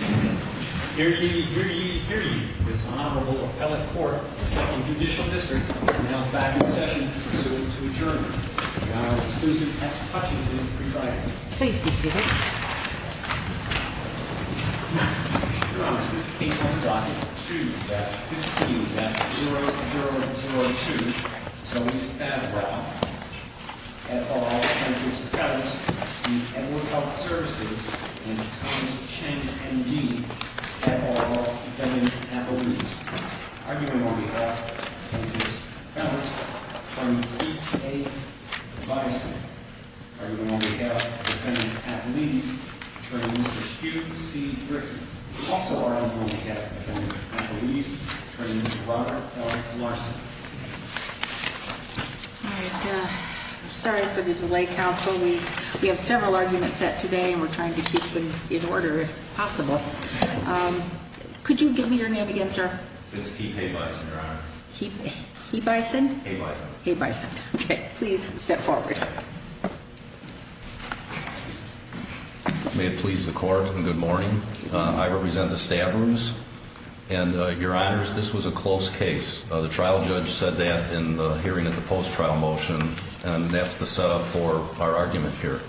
Hear ye, hear ye, hear ye, this Honorable Appellate Court of the 2nd Judicial District is now back in session to adjourn. Now, Susan F. Hutchinson is the presiding judge. Please be seated. Now, Your Honor, this case on document 2-15-0002. Zoey Stadbrock, et al, plaintiff's appellate, the Edward Health Services, and Thomas Chang, M.D., et al, defendant's appellate. Arguing on behalf of plaintiff's appellate, attorney Pete A. Bison. Arguing on behalf of defendant's appellate, attorney Mr. Hugh C. Griffin. Also arguing on behalf of defendant's appellate, attorney Mr. Robert L. Larson. All right. Sorry for the delay, counsel. We have several arguments set today, and we're trying to keep them in order if possible. Could you give me your name again, sir? It's Pete A. Bison, Your Honor. Pete A. Bison? A. Bison. A. Bison. Okay. Please step forward. May it please the Court, and good morning. I represent the Stadbrooks, and, Your Honors, this was a close case. The trial judge said that in the hearing of the post-trial motion, and that's the setup for our argument here.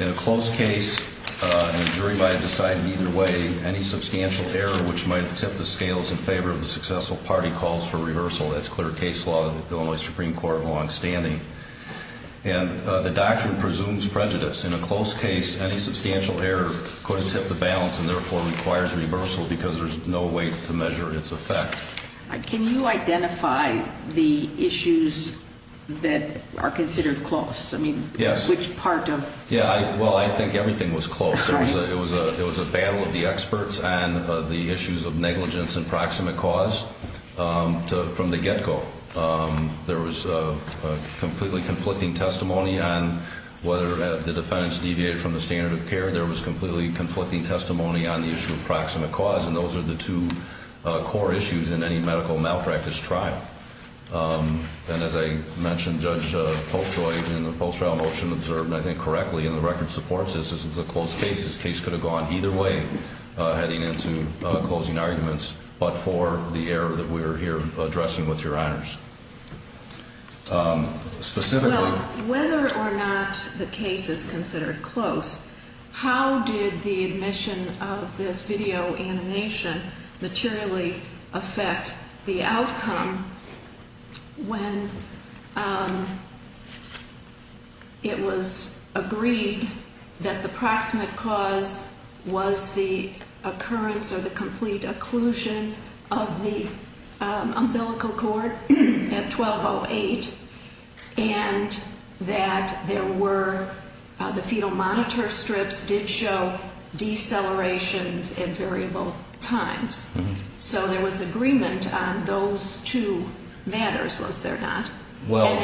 In a close case, and a jury might have decided either way, any substantial error which might tip the scales in favor of the successful party calls for reversal. That's clear case law in the Illinois Supreme Court of Longstanding. And the doctrine presumes prejudice. In a close case, any substantial error could have tipped the balance and therefore requires reversal because there's no way to measure its effect. Can you identify the issues that are considered close? I mean, which part of- Yes. Yeah, well, I think everything was close. It was a battle of the experts and the issues of negligence and proximate cause from the get-go. There was a completely conflicting testimony on whether the defendants deviated from the standard of care. There was completely conflicting testimony on the issue of proximate cause, and those are the two core issues in any medical malpractice trial. And as I mentioned, Judge Polkjoy, in the post-trial motion, observed, and I think correctly, and the record supports this, this was a close case. This case could have gone either way, heading into closing arguments, but for the error that we're here addressing with your honors. Specifically- Well, whether or not the case is considered close, how did the admission of this video animation materially affect the outcome when it was agreed that the proximate cause was the occurrence or the complete occlusion of the umbilical cord at 12.08? And that there were, the fetal monitor strips did show decelerations at variable times. So there was agreement on those two matters, was there not? Well-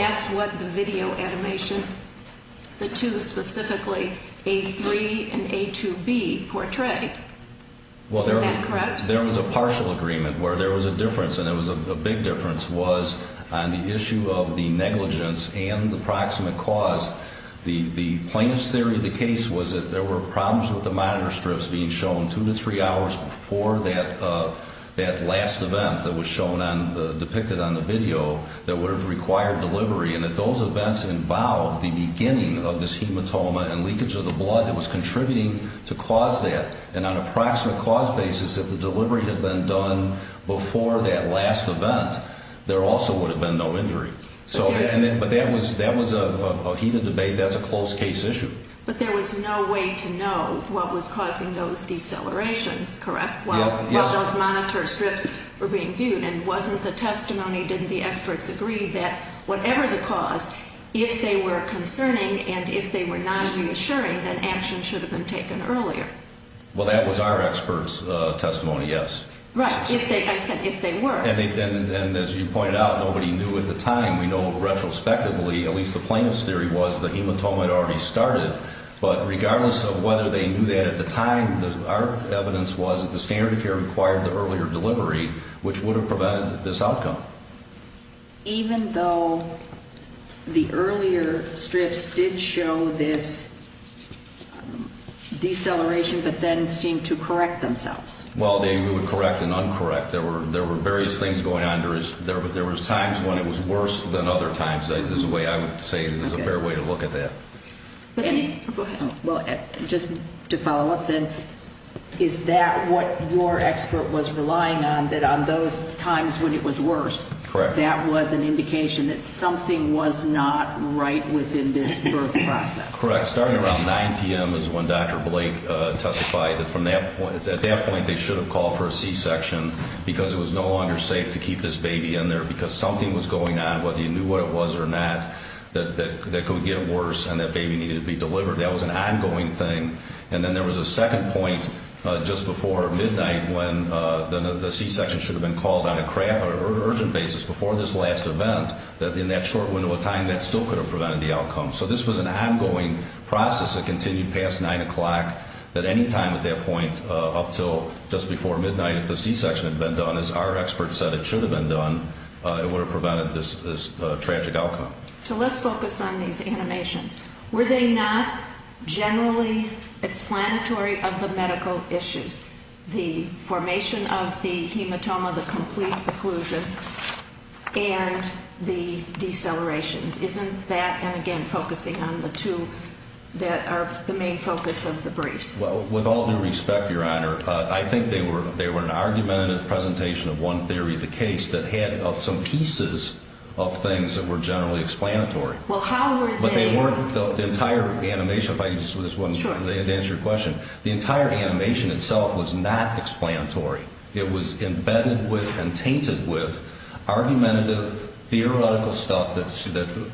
Was that correct? There was a partial agreement where there was a difference, and it was a big difference, was on the issue of the negligence and the proximate cause. The plaintiff's theory of the case was that there were problems with the monitor strips being shown two to three hours before that last event that was shown on, depicted on the video, that would have required delivery, and if those events involved the beginning of this hematoma and leakage of the blood that was contributing to cause that, and on a proximate cause basis, if the delivery had been done before that last event, there also would have been no injury. So, but that was a heated debate, that's a close case issue. But there was no way to know what was causing those decelerations, correct? While those monitor strips were being viewed, and wasn't the testimony, didn't the experts agree that whatever the cause, if they were concerning and if they were non-reassuring, then action should have been taken earlier? Well, that was our expert's testimony, yes. Right, I said if they were. And as you pointed out, nobody knew at the time. We know retrospectively, at least the plaintiff's theory was, the hematoma had already started, but regardless of whether they knew that at the time, our evidence was that the standard of care required the earlier delivery, which would have provided this outcome. Even though the earlier strips did show this deceleration, but then seemed to correct themselves? Well, they would correct and uncorrect. There were various things going on. There was times when it was worse than other times, is the way I would say is a fair way to look at that. Go ahead. Well, just to follow up then, is that what your expert was relying on, that on those times when it was worse, that was an indication that something was not right within this birth process? Correct. Starting around 9 p.m. is when Dr. Blake testified that at that point they should have called for a C-section because it was no longer safe to keep this baby in there because something was going on, whether you knew what it was or not, that could get worse and that baby needed to be delivered. That was an ongoing thing. And then there was a second point just before midnight when the C-section should have been called on an urgent basis before this last event, that in that short window of time, that still could have prevented the outcome. So this was an ongoing process that continued past 9 o'clock at any time at that point up until just before midnight. If the C-section had been done, as our expert said it should have been done, it would have prevented this tragic outcome. So let's focus on these animations. Were they not generally explanatory of the medical issues, the formation of the hematoma, the complete occlusion, and the decelerations? Isn't that, and again, focusing on the two that are the main focus of the briefs? With all due respect, Your Honor, I think they were an argumentative presentation of one theory of the case that had some pieces of things that were generally explanatory. Well, how were they? But they weren't the entire animation. If I can just answer your question. The entire animation itself was not explanatory. It was embedded with and tainted with argumentative, theoretical stuff that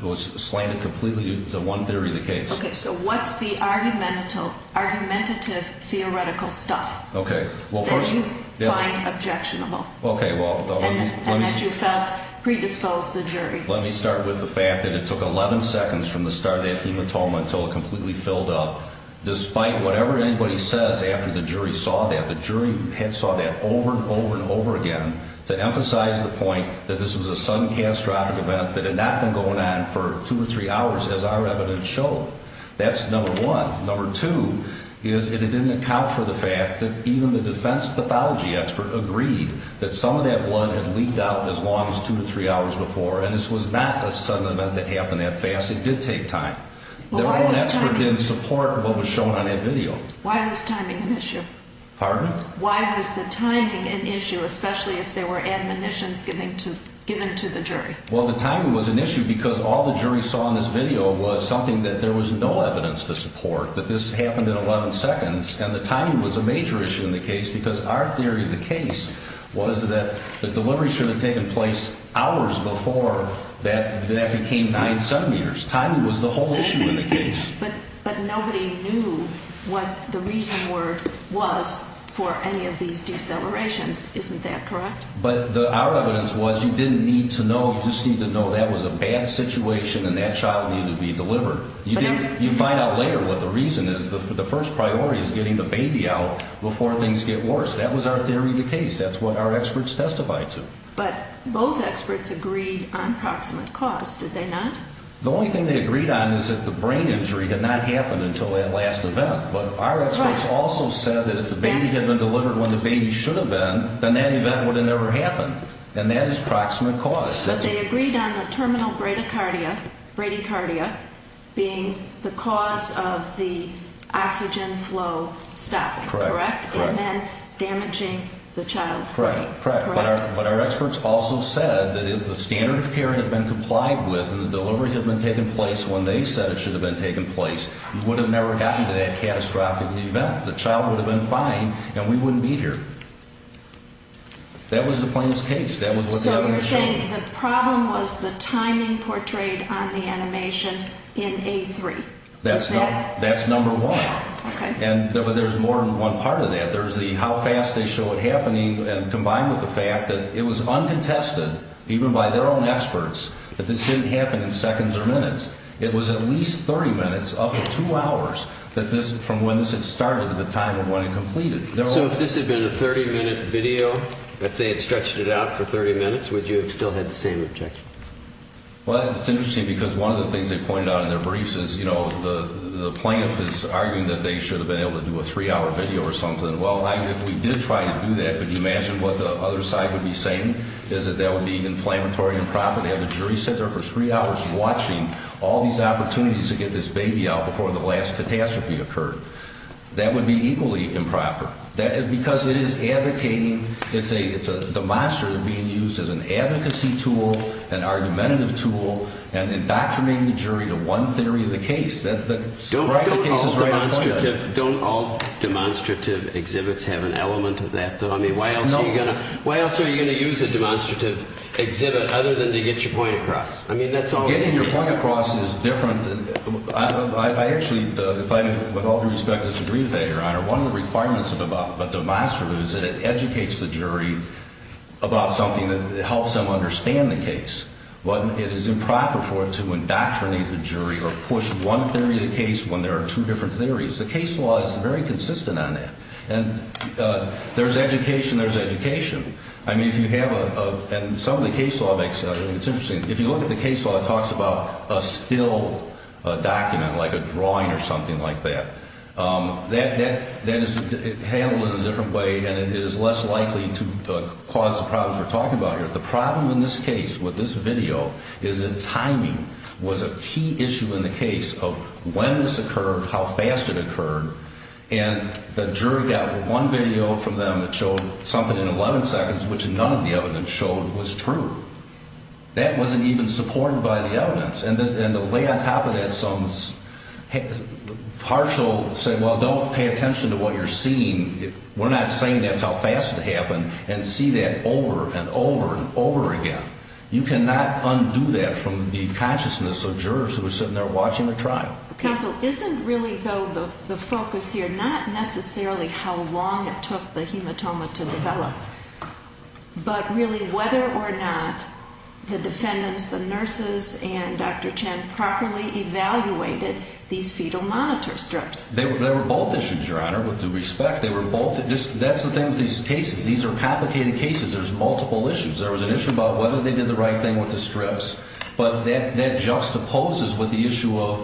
was slanted completely to one theory of the case. Okay, so what's the argumentative, theoretical stuff that you find objectionable and that you felt predisposed the jury? Let me start with the fact that it took 11 seconds from the start of that hematoma until it completely filled up. Despite whatever anybody says after the jury saw that, the jury saw that over and over and over again to emphasize the point that this was a sudden catastrophic event that had not been going on for two or three hours, as our evidence showed. That's number one. Number two is it didn't account for the fact that even the defense pathology expert agreed that some of that blood had leaked out as long as two or three hours before, and this was not a sudden event that happened that fast. It did take time. Their own expert didn't support what was shown on that video. Why was timing an issue? Pardon? If there were admonitions given to the jury. Well, the timing was an issue because all the jury saw in this video was something that there was no evidence to support, that this happened in 11 seconds, and the timing was a major issue in the case because our theory of the case was that the delivery should have taken place hours before that became 9 centimeters. Timing was the whole issue in the case. But nobody knew what the reason word was for any of these decelerations. Isn't that correct? But our evidence was you didn't need to know. You just need to know that was a bad situation and that child needed to be delivered. You find out later what the reason is. The first priority is getting the baby out before things get worse. That was our theory of the case. That's what our experts testified to. But both experts agreed on proximate cause, did they not? The only thing they agreed on is that the brain injury had not happened until that last event. But our experts also said that if the baby had been delivered when the baby should have been, then that event would have never happened. And that is proximate cause. But they agreed on the terminal bradycardia being the cause of the oxygen flow stop, correct? Correct. And then damaging the child's brain. Correct. But our experts also said that if the standard of care had been complied with and the delivery had been taking place when they said it should have been taking place, you would have never gotten to that catastrophic event. The child would have been fine and we wouldn't be here. That was the plaintiff's case. So you're saying the problem was the timing portrayed on the animation in A3? That's number one. Okay. And there's more than one part of that. There's the how fast they show it happening and combined with the fact that it was uncontested, even by their own experts, that this didn't happen in seconds or minutes. It was at least 30 minutes up to two hours from when this had started to the time of when it completed. So if this had been a 30-minute video, if they had stretched it out for 30 minutes, would you have still had the same objection? Well, it's interesting because one of the things they pointed out in their briefs is, you know, the plaintiff is arguing that they should have been able to do a three-hour video or something. Well, if we did try to do that, could you imagine what the other side would be saying is that that would be inflammatory and improper? They have a jury sit there for three hours watching all these opportunities to get this baby out before the last catastrophe occurred. That would be equally improper because it is advocating. It's a demonstrative being used as an advocacy tool, an argumentative tool, and indoctrinating the jury to one theory of the case. Don't all demonstrative exhibits have an element of that? I mean, why else are you going to use a demonstrative exhibit other than to get your point across? I mean, that's all it is. Getting your point across is different. I actually, with all due respect, disagree with that, Your Honor. One of the requirements of a demonstrative is that it educates the jury about something that helps them understand the case. But it is improper for it to indoctrinate the jury or push one theory of the case when there are two different theories. The case law is very consistent on that. And there's education, there's education. I mean, if you have a – and some of the case law makes – I mean, it's interesting. If you look at the case law, it talks about a still document, like a drawing or something like that. That is handled in a different way, and it is less likely to cause the problems we're talking about here. But the problem in this case with this video is that timing was a key issue in the case of when this occurred, how fast it occurred. And the jury got one video from them that showed something in 11 seconds, which none of the evidence showed was true. That wasn't even supported by the evidence. And to lay on top of that some partial – say, well, don't pay attention to what you're seeing. We're not saying that's how fast it happened, and see that over and over and over again. You cannot undo that from the consciousness of jurors who are sitting there watching the trial. Counsel, isn't really, though, the focus here not necessarily how long it took the hematoma to develop, but really whether or not the defendants, the nurses, and Dr. Chen properly evaluated these fetal monitor strips? They were both issues, Your Honor, with due respect. They were both – that's the thing with these cases. These are complicated cases. There's multiple issues. There was an issue about whether they did the right thing with the strips. But that juxtaposes with the issue of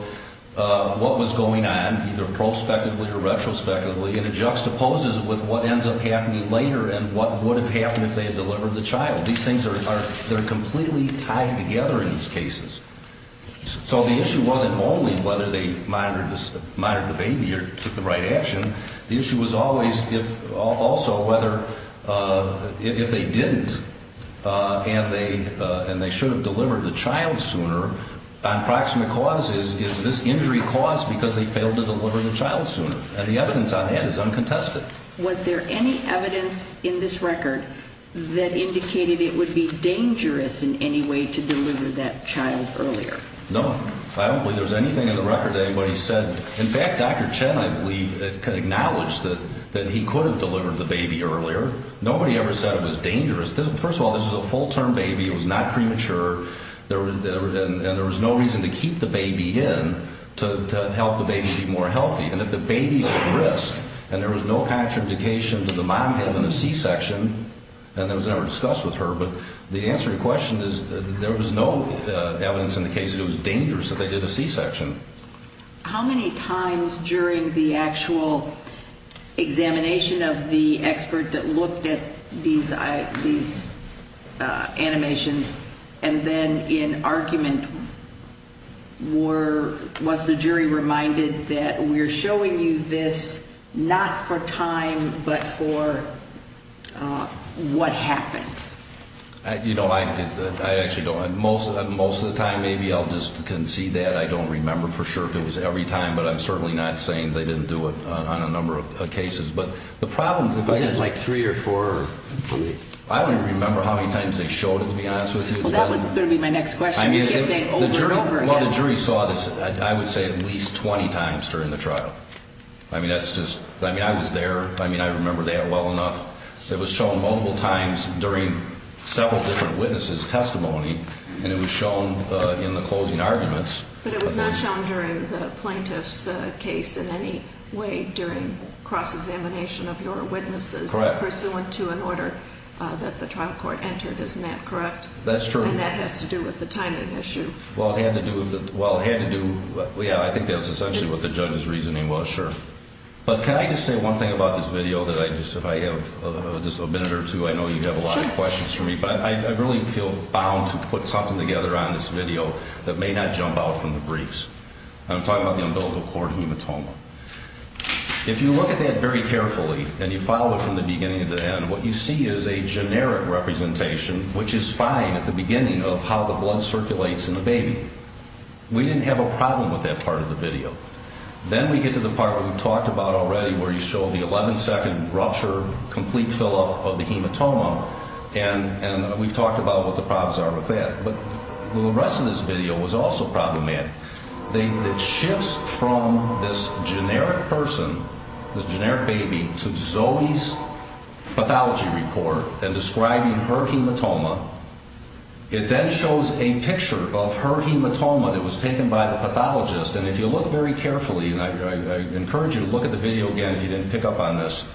what was going on, either prospectively or retrospectively, and it juxtaposes with what ends up happening later and what would have happened if they had delivered the child. These things are – they're completely tied together in these cases. So the issue wasn't only whether they monitored the baby or took the right action. The issue was always also whether if they didn't and they should have delivered the child sooner, on proximate causes, is this injury caused because they failed to deliver the child sooner? And the evidence on that is uncontested. But was there any evidence in this record that indicated it would be dangerous in any way to deliver that child earlier? No. I don't believe there's anything in the record that anybody said. In fact, Dr. Chen, I believe, could acknowledge that he could have delivered the baby earlier. Nobody ever said it was dangerous. First of all, this was a full-term baby. It was not premature, and there was no reason to keep the baby in to help the baby be more healthy. And if the baby's at risk and there was no contraindication to the mom having a C-section, and that was never discussed with her, but the answer to your question is there was no evidence in the case that it was dangerous that they did a C-section. How many times during the actual examination of the expert that looked at these animations and then in argument, was the jury reminded that we're showing you this not for time but for what happened? You know, I actually don't. Most of the time, maybe I'll just concede that. I don't remember for sure if it was every time, but I'm certainly not saying they didn't do it on a number of cases. But the problem, if I could just – Was it like three or four, I believe? I don't even remember how many times they showed it, to be honest with you. Well, that was going to be my next question. You can't say it over and over again. Well, the jury saw this, I would say, at least 20 times during the trial. I mean, that's just – I mean, I was there. I mean, I remember that well enough. It was shown multiple times during several different witnesses' testimony, and it was shown in the closing arguments. But it was not shown during the plaintiff's case in any way during cross-examination of your witnesses. Correct. It was not pursuant to an order that the trial court entered. Isn't that correct? That's true. And that has to do with the timing issue. Well, it had to do with the – well, it had to do – yeah, I think that was essentially what the judge's reasoning was, sure. But can I just say one thing about this video that I just – if I have just a minute or two, I know you have a lot of questions for me. But I really feel bound to put something together on this video that may not jump out from the briefs. I'm talking about the umbilical cord hematoma. If you look at that very carefully and you follow it from the beginning to the end, what you see is a generic representation, which is fine at the beginning of how the blood circulates in the baby. We didn't have a problem with that part of the video. Then we get to the part we've talked about already where you show the 11-second rupture, complete fill-up of the hematoma, and we've talked about what the problems are with that. But the rest of this video was also problematic. It shifts from this generic person, this generic baby, to Zoe's pathology report and describing her hematoma. It then shows a picture of her hematoma that was taken by the pathologist. And if you look very carefully – and I encourage you to look at the video again if you didn't pick up on this,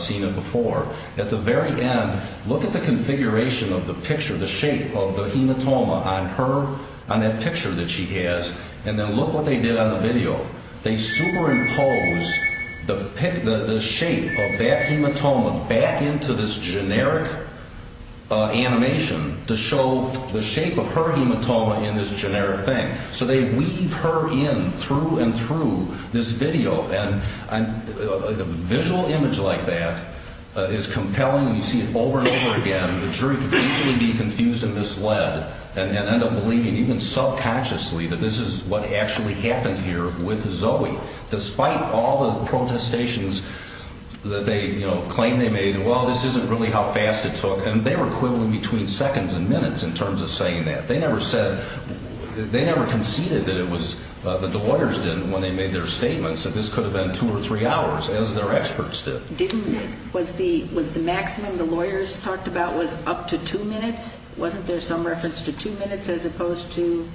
seen it before – at the very end, look at the configuration of the picture, the shape of the hematoma on that picture that she has, and then look what they did on the video. They superimpose the shape of that hematoma back into this generic animation to show the shape of her hematoma in this generic thing. So they weave her in through and through this video. And a visual image like that is compelling. You see it over and over again. The jury could easily be confused and misled and end up believing, even subconsciously, that this is what actually happened here with Zoe, despite all the protestations that they claim they made. Well, this isn't really how fast it took. And they were quibbling between seconds and minutes in terms of saying that. They never said – they never conceded that it was – that the lawyers didn't, when they made their statements, that this could have been two or three hours, as their experts did. Didn't – was the maximum the lawyers talked about was up to two minutes? Wasn't there some reference to two minutes as opposed to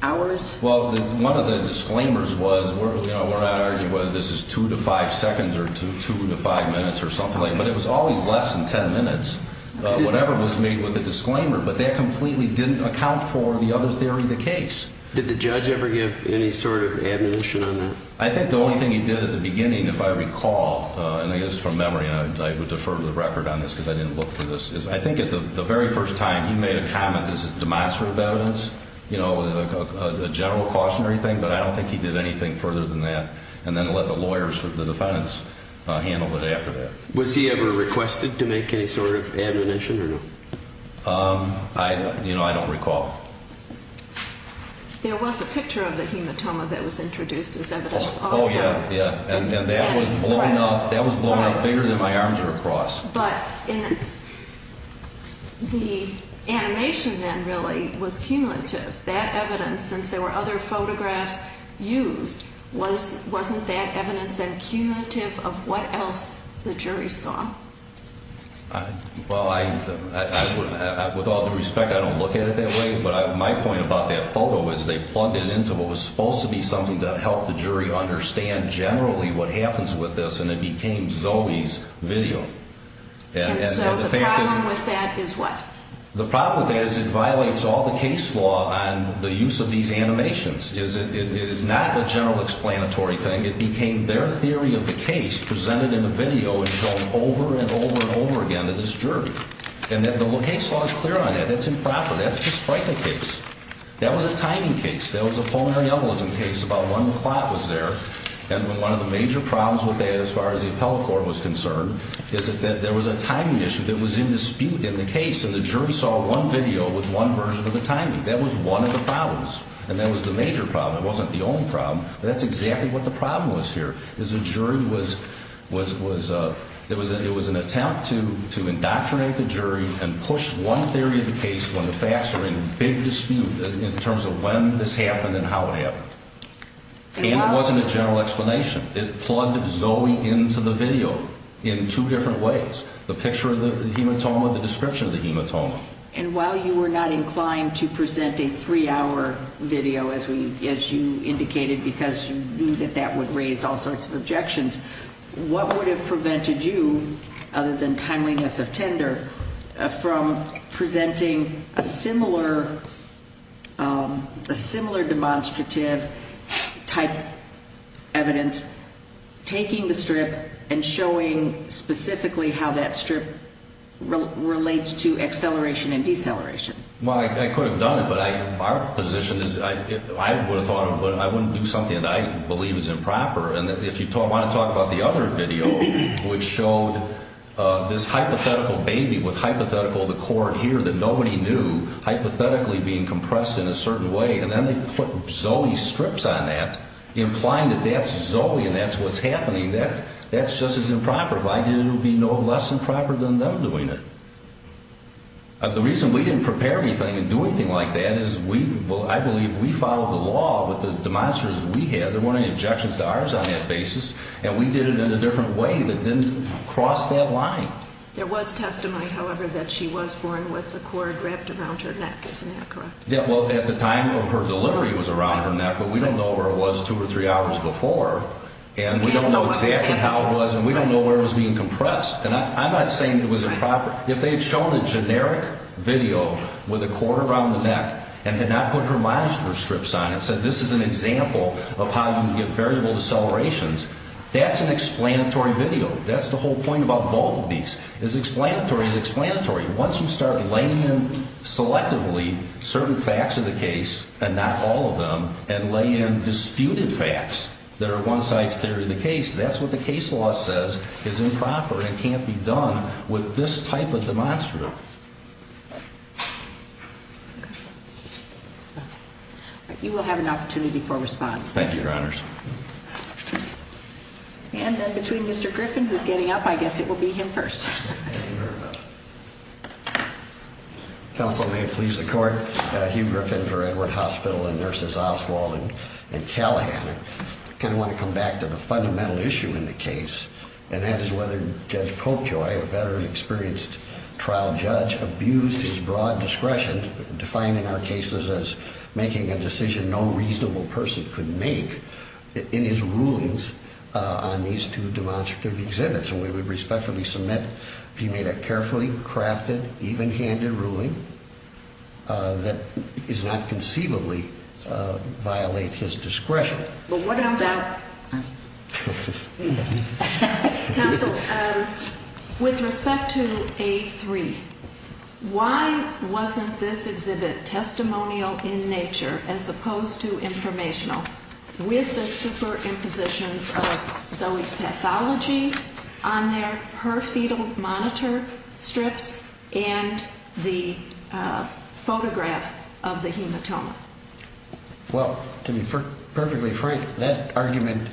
hours? Well, one of the disclaimers was – we're not arguing whether this is two to five seconds or two to five minutes or something like that, but it was always less than ten minutes, whatever was made with the disclaimer. But that completely didn't account for the other theory of the case. Did the judge ever give any sort of admonition on that? I think the only thing he did at the beginning, if I recall, and I guess from memory, and I would defer to the record on this because I didn't look for this, is I think the very first time he made a comment, this is demonstrative evidence, you know, a general cautionary thing, but I don't think he did anything further than that and then let the lawyers, the defendants, handle it after that. Was he ever requested to make any sort of admonition or no? I don't – you know, I don't recall. There was a picture of the hematoma that was introduced as evidence also. Oh, yeah, yeah. And that was blown up – that was blown up bigger than my arms are across. But in – the animation then really was cumulative. That evidence, since there were other photographs used, wasn't that evidence then cumulative of what else the jury saw? Well, I – with all due respect, I don't look at it that way, but my point about that photo is they plugged it into what was supposed to be something to help the jury understand generally what happens with this, and it became Zoe's video. And so the problem with that is what? The problem with that is it violates all the case law on the use of these animations. It is not a general explanatory thing. It became their theory of the case presented in a video and shown over and over and over again to this jury. And then the case law is clear on that. That's improper. That's the Spryka case. That was a timing case. That was a Paul Mariellism case about 1 o'clock was there. And one of the major problems with that as far as the appellate court was concerned is that there was a timing issue that was in dispute in the case, and the jury saw one video with one version of the timing. That was one of the problems, and that was the major problem. It wasn't the only problem, but that's exactly what the problem was here, is the jury was – it was an attempt to indoctrinate the jury and push one theory of the case when the facts are in big dispute in terms of when this happened and how it happened. And it wasn't a general explanation. It plugged Zoe into the video in two different ways, the picture of the hematoma, the description of the hematoma. And while you were not inclined to present a three-hour video, as you indicated, because you knew that that would raise all sorts of objections, what would have prevented you, other than timeliness of tender, from presenting a similar demonstrative-type evidence, taking the strip and showing specifically how that strip relates to acceleration and deceleration? Well, I could have done it, but our position is – I would have thought of it, but I wouldn't do something that I believe is improper. And if you want to talk about the other video, which showed this hypothetical baby with hypothetical, the court here, that nobody knew, hypothetically being compressed in a certain way, and then they put Zoe's strips on that, implying that that's Zoe and that's what's happening, that's just as improper. Why did it be no less improper than them doing it? The reason we didn't prepare anything and do anything like that is we – there weren't any objections to ours on that basis, and we did it in a different way that didn't cross that line. There was testimony, however, that she was born with the cord wrapped around her neck. Isn't that correct? Yeah, well, at the time of her delivery it was around her neck, but we don't know where it was two or three hours before, and we don't know exactly how it was, and we don't know where it was being compressed. And I'm not saying it was improper. If they had shown a generic video with a cord around the neck and had not put her monitor strips on it and said this is an example of how you can get variable decelerations, that's an explanatory video. That's the whole point about both of these, is explanatory is explanatory. Once you start laying in selectively certain facts of the case, and not all of them, and lay in disputed facts that are one side's theory of the case, that's what the case law says is improper and can't be done with this type of demonstrative. You will have an opportunity for response. Thank you, Your Honors. And then between Mr. Griffin, who's getting up, I guess it will be him first. Counsel, may it please the Court, Hugh Griffin for Edward Hospital and Nurses Oswald and Callahan. I kind of want to come back to the fundamental issue in the case, and that is whether Judge Popejoy, a better experienced trial judge, abused his broad discretion, defining our cases as making a decision no reasonable person could make, in his rulings on these two demonstrative exhibits. And we would respectfully submit he made a carefully crafted, even-handed ruling that does not conceivably violate his discretion. But what about- Counsel, with respect to A3, why wasn't this exhibit testimonial in nature, as opposed to informational, with the superimpositions of Zoe's pathology on her fetal monitor strips and the photograph of the hematoma? Well, to be perfectly frank, that argument-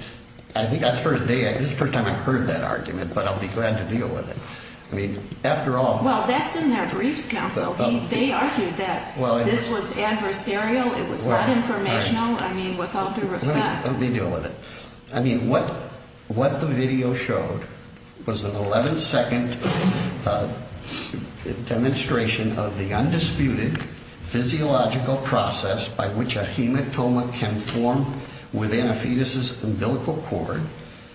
I think that's the first time I've heard that argument, but I'll be glad to deal with it. I mean, after all- Well, that's in their briefs, Counsel. They argued that this was adversarial, it was not informational. I mean, with all due respect- Let me deal with it. I mean, what the video showed was an 11-second demonstration of the undisputed physiological process by which a hematoma can form within a fetus's umbilical cord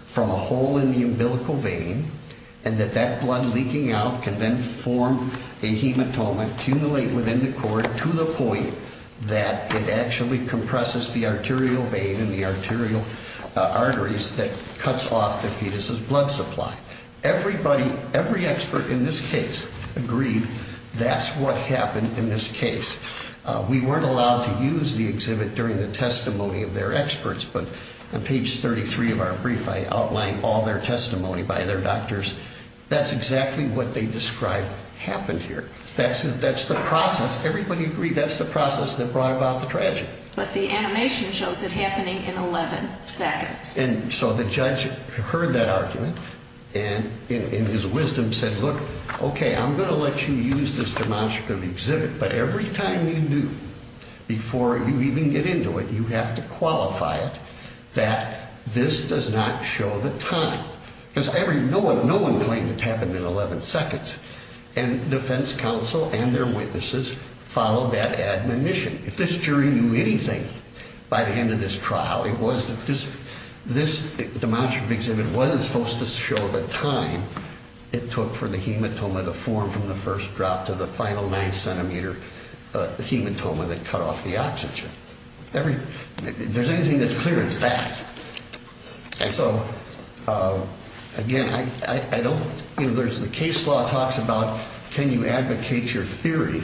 from a hole in the umbilical vein, and that that blood leaking out can then form a hematoma, accumulate within the cord to the point that it actually compresses the arterial vein and the arterial arteries that cuts off the fetus's blood supply. Every expert in this case agreed that's what happened in this case. We weren't allowed to use the exhibit during the testimony of their experts, but on page 33 of our brief I outlined all their testimony by their doctors. That's exactly what they described happened here. That's the process. Everybody agreed that's the process that brought about the tragedy. But the animation shows it happening in 11 seconds. And so the judge heard that argument and in his wisdom said, look, okay, I'm going to let you use this demonstrative exhibit, but every time you do, before you even get into it, you have to qualify it that this does not show the time. Because no one claimed it happened in 11 seconds. And defense counsel and their witnesses followed that admonition. If this jury knew anything by the end of this trial, it was that this demonstrative exhibit wasn't supposed to show the time it took for the hematoma to form from the first drop to the final 9-centimeter hematoma that cut off the oxygen. If there's anything that's clear, it's that. And so, again, I don't, you know, there's the case law talks about can you advocate your theory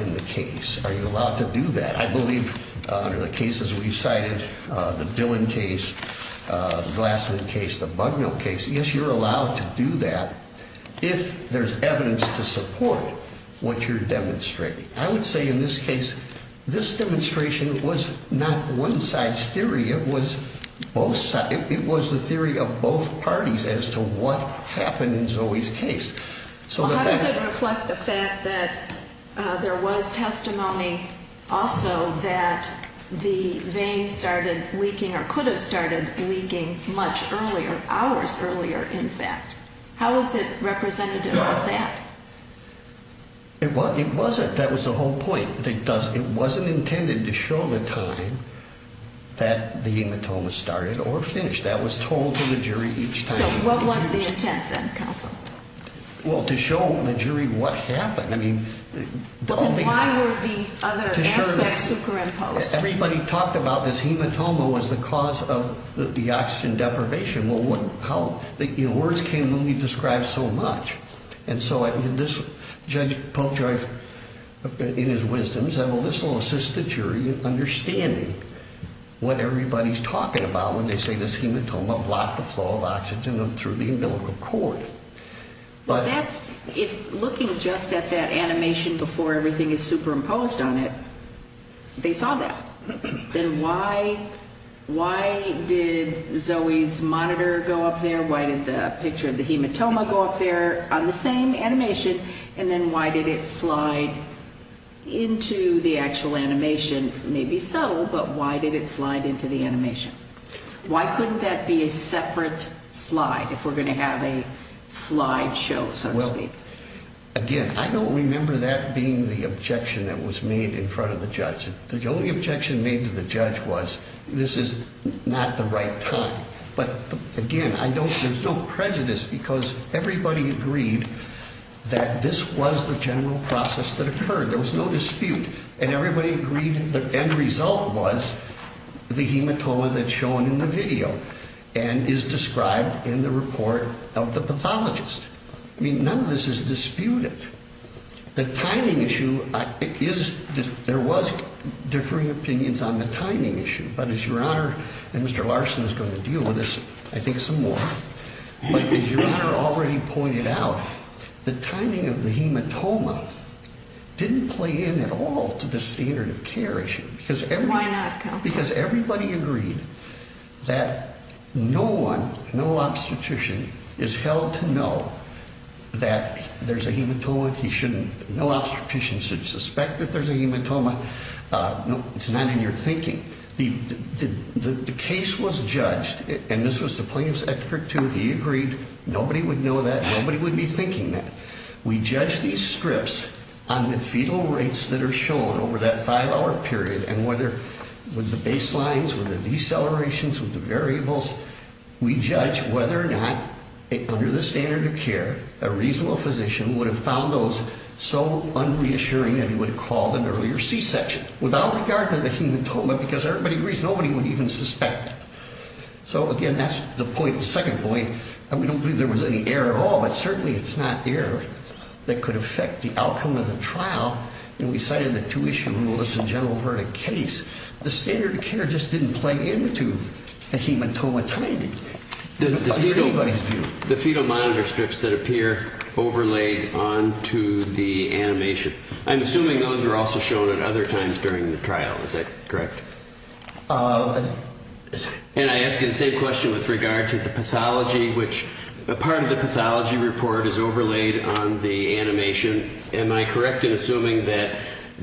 in the case? Are you allowed to do that? I believe under the cases we've cited, the Dillon case, Glassman case, the Bucknell case, yes, you're allowed to do that if there's evidence to support what you're demonstrating. I would say in this case, this demonstration was not one side's theory. It was both sides. It was the theory of both parties as to what happened in Zoe's case. So how does it reflect the fact that there was testimony also that the vein started leaking or could have started leaking much earlier, hours earlier, in fact? How is it representative of that? It wasn't. That was the whole point. It doesn't. It wasn't intended to show the time that the hematoma started or finished. That was told to the jury each time. So what was the intent then, counsel? Well, to show the jury what happened. Why were these other aspects superimposed? Everybody talked about this hematoma was the cause of the oxygen deprivation. Well, words can only describe so much. And so Judge Polk-Joy, in his wisdom, said, well, this will assist the jury in understanding what everybody's talking about when they say this hematoma blocked the flow of oxygen through the umbilical cord. But that's if looking just at that animation before everything is superimposed on it, they saw that. Then why did Zoe's monitor go up there? Why did the picture of the hematoma go up there on the same animation? And then why did it slide into the actual animation? Maybe subtle, but why did it slide into the animation? Why couldn't that be a separate slide if we're going to have a slide show, so to speak? Well, again, I don't remember that being the objection that was made in front of the judge. The only objection made to the judge was this is not the right time. But, again, there's no prejudice because everybody agreed that this was the general process that occurred. There was no dispute, and everybody agreed that the end result was the hematoma that's shown in the video and is described in the report of the pathologist. I mean, none of this is disputed. The timing issue, there was differing opinions on the timing issue, but as Your Honor, and Mr. Larson is going to deal with this, I think, some more, but as Your Honor already pointed out, the timing of the hematoma didn't play in at all to the standard of care issue. Why not, counsel? Because everybody agreed that no one, no obstetrician, is held to know that there's a hematoma. No obstetrician should suspect that there's a hematoma. No, it's not in your thinking. The case was judged, and this was the plaintiff's expert, too. He agreed nobody would know that. Nobody would be thinking that. We judge these scripts on the fetal rates that are shown over that five-hour period and whether with the baselines, with the decelerations, with the variables, we judge whether or not under the standard of care, a reasonable physician would have found those so unreassuring that he would have called an earlier C-section without regard to the hematoma because everybody agrees nobody would even suspect. So, again, that's the point, the second point, and we don't believe there was any error at all, but certainly it's not error that could affect the outcome of the trial, and we cited the two-issue rule as a general verdict case. The standard of care just didn't play into the hematoma timing. The fetal monitor scripts that appear overlaid onto the animation, I'm assuming those were also shown at other times during the trial. Is that correct? And I ask you the same question with regard to the pathology, which a part of the pathology report is overlaid on the animation. Am I correct in assuming that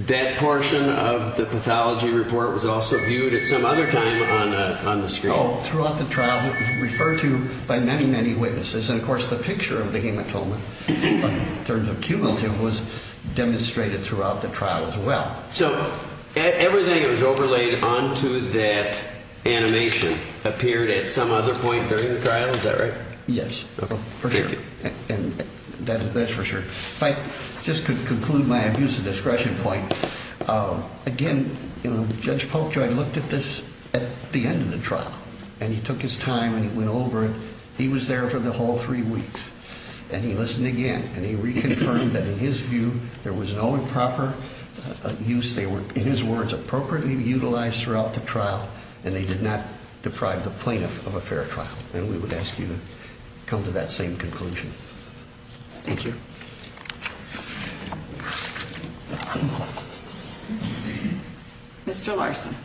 that portion of the pathology report was also viewed at some other time on the screen? No, throughout the trial it was referred to by many, many witnesses, and, of course, the picture of the hematoma in terms of cumulative was demonstrated throughout the trial as well. So everything that was overlaid onto that animation appeared at some other point during the trial? Is that right? Yes. Okay, thank you. And that's for sure. If I just could conclude my abuse of discretion point, again, Judge Polkjoy looked at this at the end of the trial. And he took his time and he went over it. He was there for the whole three weeks, and he listened again, and he reconfirmed that in his view there was no improper use. They were, in his words, appropriately utilized throughout the trial, and they did not deprive the plaintiff of a fair trial. And we would ask you to come to that same conclusion. Thank you. Thank you. Mr. Larson.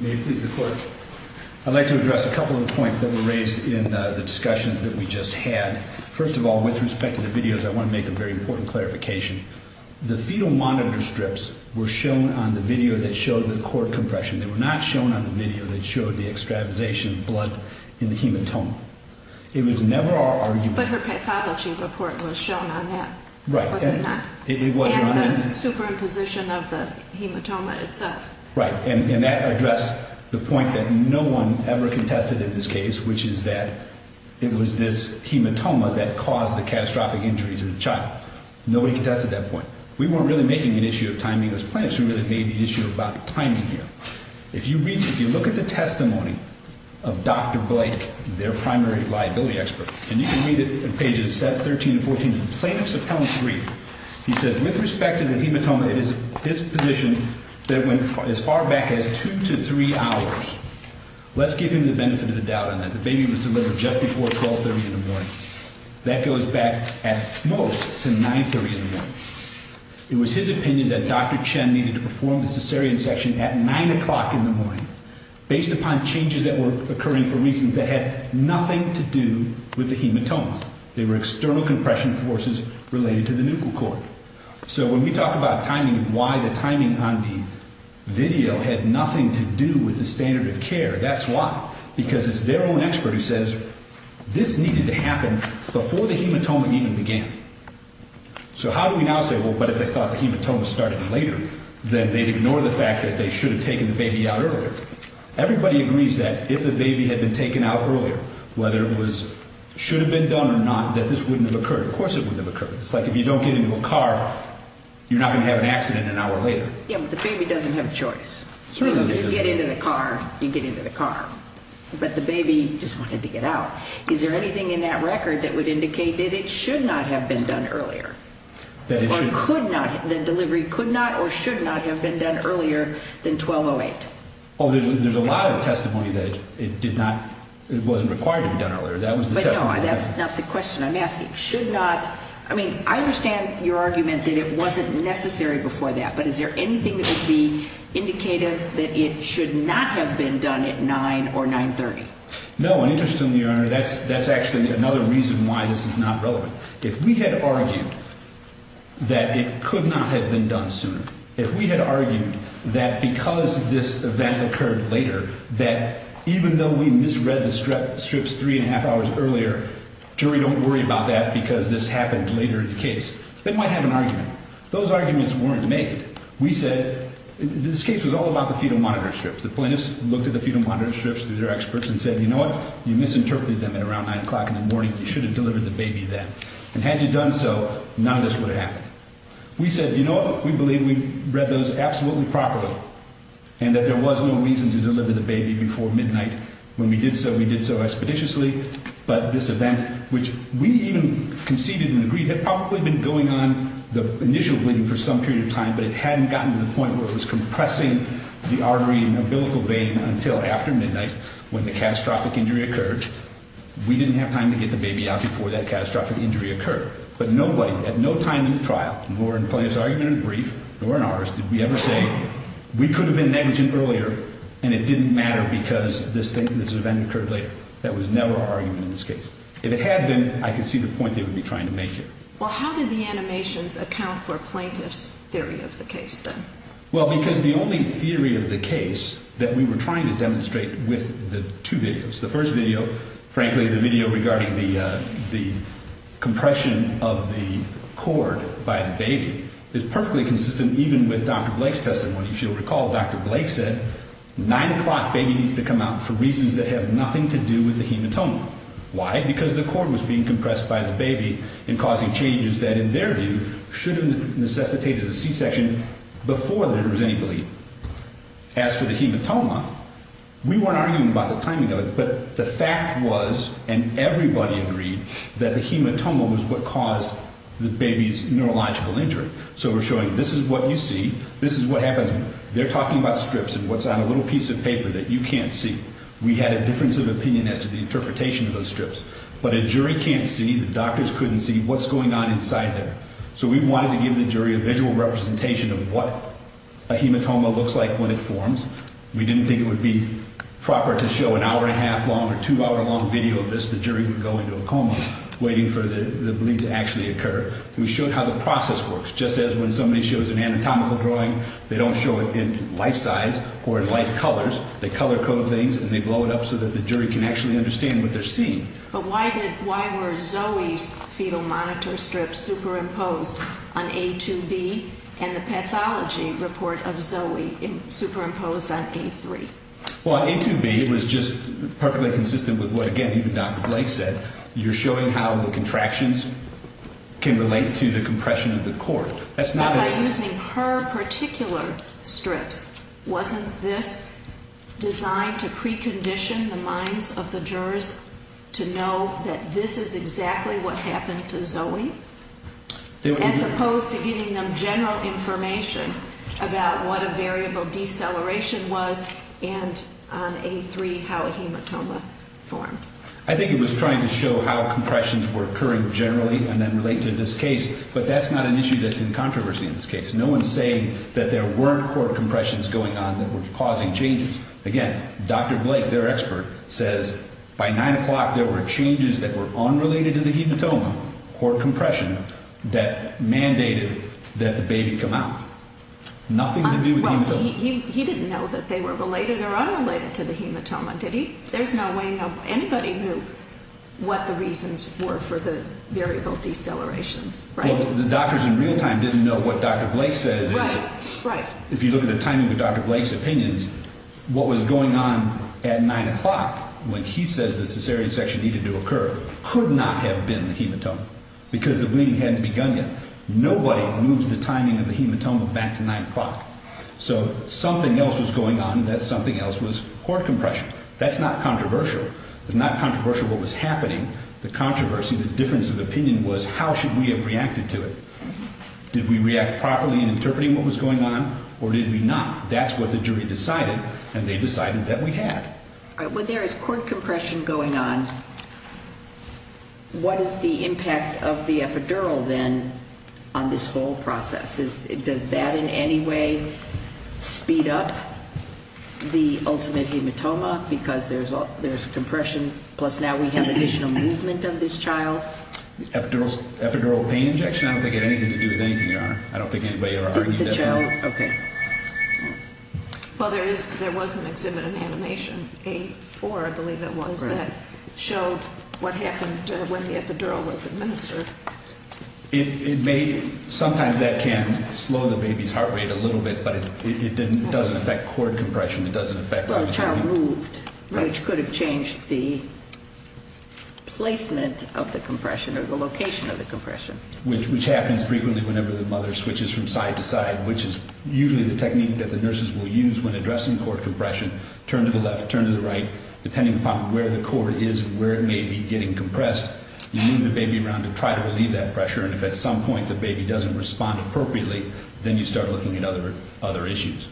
May it please the Court. I'd like to address a couple of points that were raised in the discussions that we just had. First of all, with respect to the videos, I want to make a very important clarification. The fetal monitor strips were shown on the video that showed the cord compression. They were not shown on the video that showed the extravasation of blood in the hematoma. It was never our argument. But her pathology report was shown on that, was it not? It was shown on that. And the superimposition of the hematoma itself. Right. And that addressed the point that no one ever contested in this case, which is that it was this hematoma that caused the catastrophic injuries of the child. Nobody contested that point. We weren't really making an issue of timing. It was plaintiffs who really made the issue about timing here. If you look at the testimony of Dr. Blake, their primary liability expert, and you can read it in pages 7, 13, and 14 from the plaintiff's appellant's brief, he says, with respect to the hematoma, it is his position that went as far back as two to three hours. Let's give him the benefit of the doubt on that. The baby was delivered just before 1230 in the morning. That goes back at most to 930 in the morning. It was his opinion that Dr. Chen needed to perform the cesarean section at 9 o'clock in the morning, based upon changes that were occurring for reasons that had nothing to do with the hematoma. They were external compression forces related to the nuchal cord. So when we talk about timing and why the timing on the video had nothing to do with the standard of care, that's why. Because it's their own expert who says this needed to happen before the hematoma even began. So how do we now say, well, but if they thought the hematoma started later, then they'd ignore the fact that they should have taken the baby out earlier. Everybody agrees that if the baby had been taken out earlier, whether it should have been done or not, that this wouldn't have occurred. Of course it wouldn't have occurred. It's like if you don't get into a car, you're not going to have an accident an hour later. Yeah, but the baby doesn't have a choice. You get into the car, you get into the car. But the baby just wanted to get out. Is there anything in that record that would indicate that it should not have been done earlier? Or could not, the delivery could not or should not have been done earlier than 12-08? Oh, there's a lot of testimony that it did not, it wasn't required to be done earlier. But no, that's not the question I'm asking. Should not, I mean, I understand your argument that it wasn't necessary before that, but is there anything that would be indicative that it should not have been done at 9 or 9-30? No, and interestingly, Your Honor, that's actually another reason why this is not relevant. If we had argued that it could not have been done sooner, if we had argued that because this event occurred later, that even though we misread the strips three and a half hours earlier, jury don't worry about that because this happened later in the case, they might have an argument. Those arguments weren't made. We said, this case was all about the fetal monitor strips. The plaintiffs looked at the fetal monitor strips through their experts and said, you know what, you misinterpreted them at around 9 o'clock in the morning, you should have delivered the baby then. And had you done so, none of this would have happened. We said, you know what, we believe we read those absolutely properly and that there was no reason to deliver the baby before midnight. When we did so, we did so expeditiously. But this event, which we even conceded and agreed had probably been going on, the initial bleeding for some period of time, but it hadn't gotten to the point where it was compressing the artery and umbilical vein until after midnight when the catastrophic injury occurred. We didn't have time to get the baby out before that catastrophic injury occurred. But nobody, at no time in the trial, nor in plaintiff's argument in the brief, nor in ours, did we ever say, we could have been negligent earlier and it didn't matter because this event occurred later. That was never our argument in this case. If it had been, I could see the point they would be trying to make here. Well, how did the animations account for plaintiff's theory of the case then? Well, because the only theory of the case that we were trying to demonstrate with the two videos, the first video, frankly, the video regarding the compression of the cord by the baby, is perfectly consistent even with Dr. Blake's testimony. If you'll recall, Dr. Blake said 9 o'clock baby needs to come out for reasons that have nothing to do with the hematoma. Why? Because the cord was being compressed by the baby and causing changes that, in their view, should have necessitated a C-section before there was any bleed. As for the hematoma, we weren't arguing about the timing of it, but the fact was, and everybody agreed, that the hematoma was what caused the baby's neurological injury. So we're showing this is what you see, this is what happens. They're talking about strips and what's on a little piece of paper that you can't see. We had a difference of opinion as to the interpretation of those strips. But a jury can't see, the doctors couldn't see what's going on inside there. So we wanted to give the jury a visual representation of what a hematoma looks like when it forms. We didn't think it would be proper to show an hour and a half long or two hour long video of this, the jury would go into a coma waiting for the bleed to actually occur. We showed how the process works, just as when somebody shows an anatomical drawing, they don't show it in life size or in life colors. They color code things and they blow it up so that the jury can actually understand what they're seeing. But why did, why were Zoe's fetal monitor strips superimposed on A2B and the pathology report of Zoe superimposed on A3? Well, A2B was just perfectly consistent with what, again, even Dr. Blake said. You're showing how the contractions can relate to the compression of the cord. Well, by using her particular strips, wasn't this designed to precondition the minds of the jurors to know that this is exactly what happened to Zoe? As opposed to giving them general information about what a variable deceleration was and on A3 how a hematoma formed. I think it was trying to show how compressions were occurring generally and then relate to this case, but that's not an issue that's in controversy in this case. No one's saying that there weren't cord compressions going on that were causing changes. Again, Dr. Blake, their expert, says by 9 o'clock there were changes that were unrelated to the hematoma, cord compression, that mandated that the baby come out. Nothing to do with the hematoma. Well, he didn't know that they were related or unrelated to the hematoma, did he? There's no way anybody knew what the reasons were for the variable decelerations, right? Well, the doctors in real time didn't know what Dr. Blake says. Right, right. If you look at the timing with Dr. Blake's opinions, what was going on at 9 o'clock when he says the cesarean section needed to occur could not have been the hematoma because the bleeding hadn't begun yet. Nobody moves the timing of the hematoma back to 9 o'clock. So something else was going on that something else was cord compression. That's not controversial. It's not controversial what was happening. The controversy, the difference of opinion was how should we have reacted to it. Did we react properly in interpreting what was going on or did we not? That's what the jury decided, and they decided that we had. When there is cord compression going on, what is the impact of the epidural then on this whole process? Does that in any way speed up the ultimate hematoma because there's compression, plus now we have additional movement of this child? Epidural pain injection? I don't think it had anything to do with anything, Your Honor. I don't think anybody ever argued that. The child, okay. Well, there was an exhibit in animation, A4, I believe that was, that showed what happened when the epidural was administered. Sometimes that can slow the baby's heart rate a little bit, but it doesn't affect cord compression. It doesn't affect what was happening. Well, the child moved, which could have changed the placement of the compression or the location of the compression. Which happens frequently whenever the mother switches from side to side, which is usually the technique that the nurses will use when addressing cord compression, turn to the left, turn to the right. Depending upon where the cord is and where it may be getting compressed, you move the baby around to try to relieve that pressure, and if at some point the baby doesn't respond appropriately, then you start looking at other issues.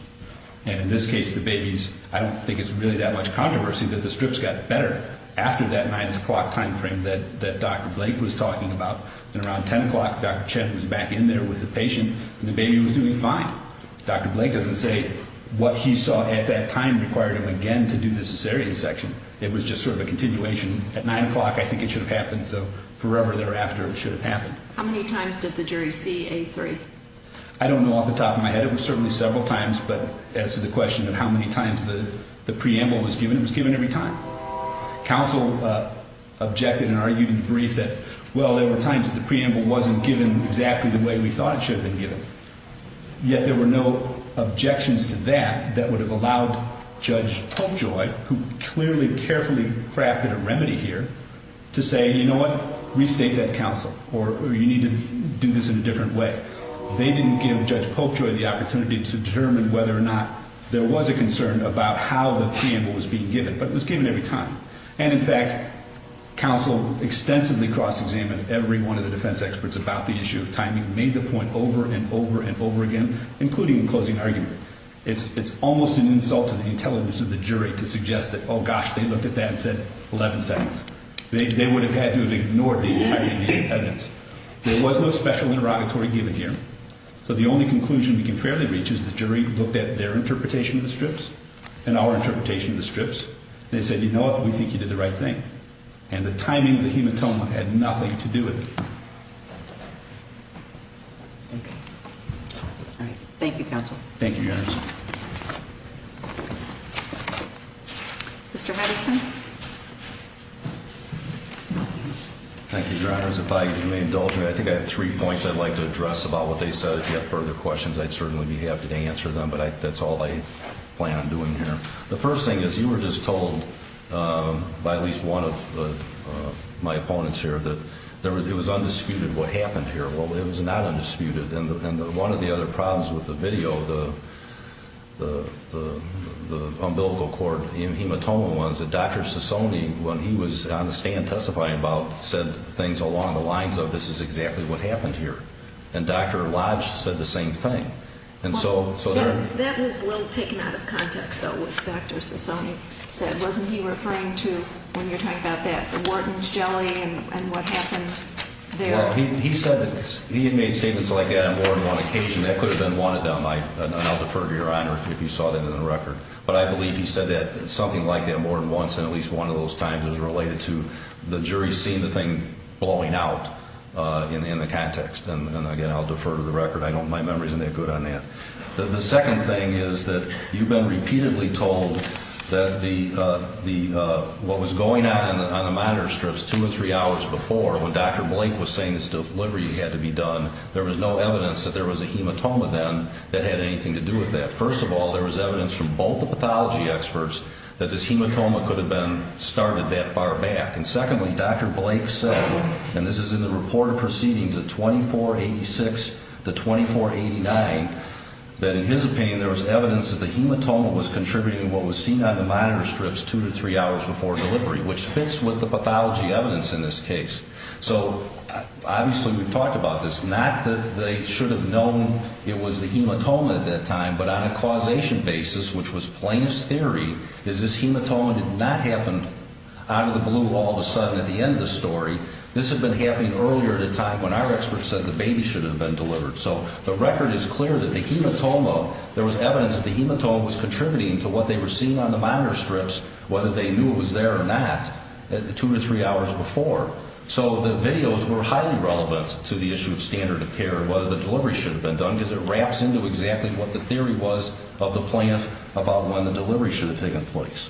And in this case, the baby's, I don't think it's really that much controversy that the strips got better after that 9 o'clock timeframe that Dr. Blake was talking about. And around 10 o'clock, Dr. Chen was back in there with the patient, and the baby was doing fine. Dr. Blake doesn't say what he saw at that time required him again to do the cesarean section. It was just sort of a continuation. At 9 o'clock, I think it should have happened, so forever thereafter it should have happened. How many times did the jury see A3? I don't know off the top of my head. It was certainly several times, but as to the question of how many times the preamble was given, it was given every time. Counsel objected and argued in the brief that, well, there were times that the preamble wasn't given exactly the way we thought it should have been given. Yet there were no objections to that that would have allowed Judge Popejoy, who clearly carefully crafted a remedy here, to say, you know what, restate that counsel, or you need to do this in a different way. They didn't give Judge Popejoy the opportunity to determine whether or not there was a concern about how the preamble was being given, but it was given every time. And, in fact, counsel extensively cross-examined every one of the defense experts about the issue of timing, made the point over and over and over again, including in closing argument. It's almost an insult to the intelligence of the jury to suggest that, oh, gosh, they looked at that and said 11 seconds. They would have had to have ignored the evidence. There was no special interrogatory given here. So the only conclusion we can fairly reach is the jury looked at their interpretation of the strips and our interpretation of the strips, and they said, you know what, we think you did the right thing. And the timing of the hematoma had nothing to do with it. Okay. All right. Thank you, counsel. Thank you, Your Honor. Mr. Hedgeson. Thank you, Your Honor. If I may indulge, I think I have three points I'd like to address about what they said. If you have further questions, I'd certainly be happy to answer them, but that's all I plan on doing here. The first thing is you were just told by at least one of my opponents here that it was undisputed what happened here. Well, it was not undisputed. And one of the other problems with the video, the umbilical cord hematoma one, is that Dr. Sassoni, when he was on the stand testifying about it, said things along the lines of this is exactly what happened here. And Dr. Lodge said the same thing. And so there are ñ That was a little taken out of context, though, what Dr. Sassoni said. Wasn't he referring to, when you're talking about that, the Wharton's jelly and what happened there? Well, he said that he had made statements like that on more than one occasion. That could have been one of them. And I'll defer to Your Honor if you saw that in the record. But I believe he said something like that more than once, and at least one of those times is related to the jury seeing the thing blowing out in the context. And again, I'll defer to the record. I don't ñ my memory isn't that good on that. The second thing is that you've been repeatedly told that what was going on on the monitor strips two or three hours before when Dr. Blake was saying this delivery had to be done, there was no evidence that there was a hematoma then that had anything to do with that. First of all, there was evidence from both the pathology experts that this hematoma could have been started that far back. And secondly, Dr. Blake said, and this is in the report of proceedings of 2486 to 2489, that in his opinion there was evidence that the hematoma was contributing to what was seen on the monitor strips two to three hours before delivery, which fits with the pathology evidence in this case. So obviously we've talked about this. Not that they should have known it was the hematoma at that time, but on a causation basis, which was plainest theory, is this hematoma did not happen out of the blue all of a sudden at the end of the story. This had been happening earlier at a time when our experts said the baby should have been delivered. So the record is clear that the hematoma ñ there was evidence that the hematoma was contributing to what they were seeing on the monitor strips, whether they knew it was there or not, two to three hours before. So the videos were highly relevant to the issue of standard of care, whether the delivery should have been done, because it wraps into exactly what the theory was of the plant about when the delivery should have taken place.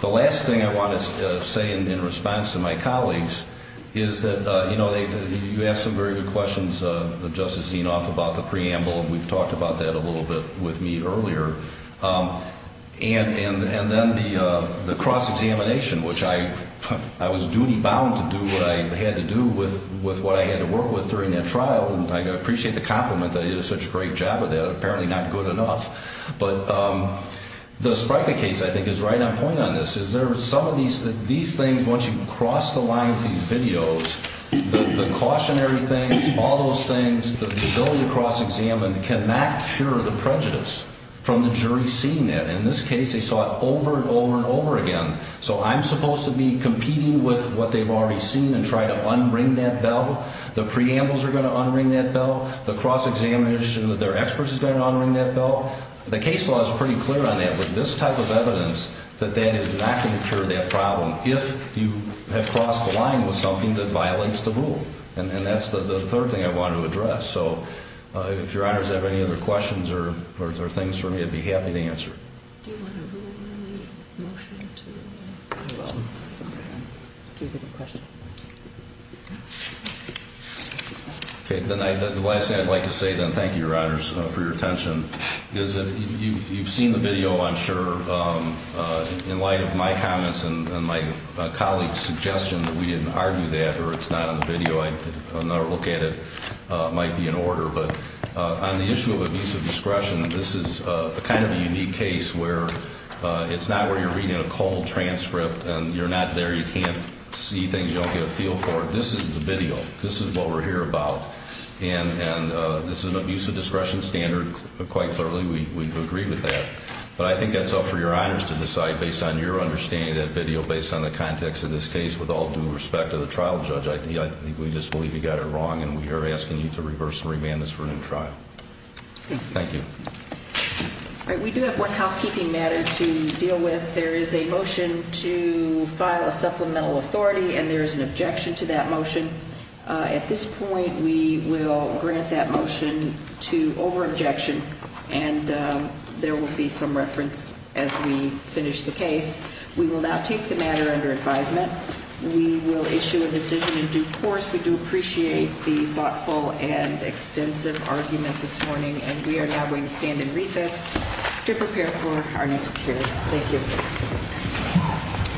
The last thing I want to say in response to my colleagues is that, you know, you asked some very good questions, Justice Zinoff, about the preamble, and we've talked about that a little bit with me earlier. And then the cross-examination, which I was duty-bound to do what I had to do with what I had to work with during that trial, and I appreciate the compliment that I did such a great job of that, apparently not good enough. But the Spreikler case, I think, is right on point on this, is there are some of these things, once you cross the line with these videos, the cautionary things, all those things, the ability to cross-examine cannot cure the prejudice from the jury seeing it. In this case, they saw it over and over and over again. So I'm supposed to be competing with what they've already seen and try to unring that bell? The preambles are going to unring that bell? The cross-examination with their experts is going to unring that bell? The case law is pretty clear on that, but this type of evidence that that is not going to cure that problem if you have crossed the line with something that violates the rule. And that's the third thing I wanted to address. So if Your Honors have any other questions or things for me, I'd be happy to answer. Do you want to rule in the motion? I will. Do you have any questions? No. Okay, the last thing I'd like to say, then, thank you, Your Honors, for your attention, is that you've seen the video, I'm sure, in light of my comments and my colleague's suggestion that we didn't argue that or it's not on the video, another look at it might be in order. But on the issue of abuse of discretion, this is kind of a unique case where it's not where you're reading a cold transcript and you're not there, you can't see things, you don't get a feel for it. This is the video. This is what we're here about. And this is an abuse of discretion standard. Quite clearly, we agree with that. But I think that's up for Your Honors to decide based on your understanding of that video, based on the context of this case, with all due respect to the trial judge, I think we just believe you got it wrong, and we are asking you to reverse and remand this for a new trial. Thank you. All right, we do have one housekeeping matter to deal with. There is a motion to file a supplemental authority, and there is an objection to that motion. At this point, we will grant that motion to over-objection, and there will be some reference as we finish the case. We will now take the matter under advisement. We will issue a decision in due course. We do appreciate the thoughtful and extensive argument this morning, and we are now going to stand in recess to prepare for our next hearing. Thank you.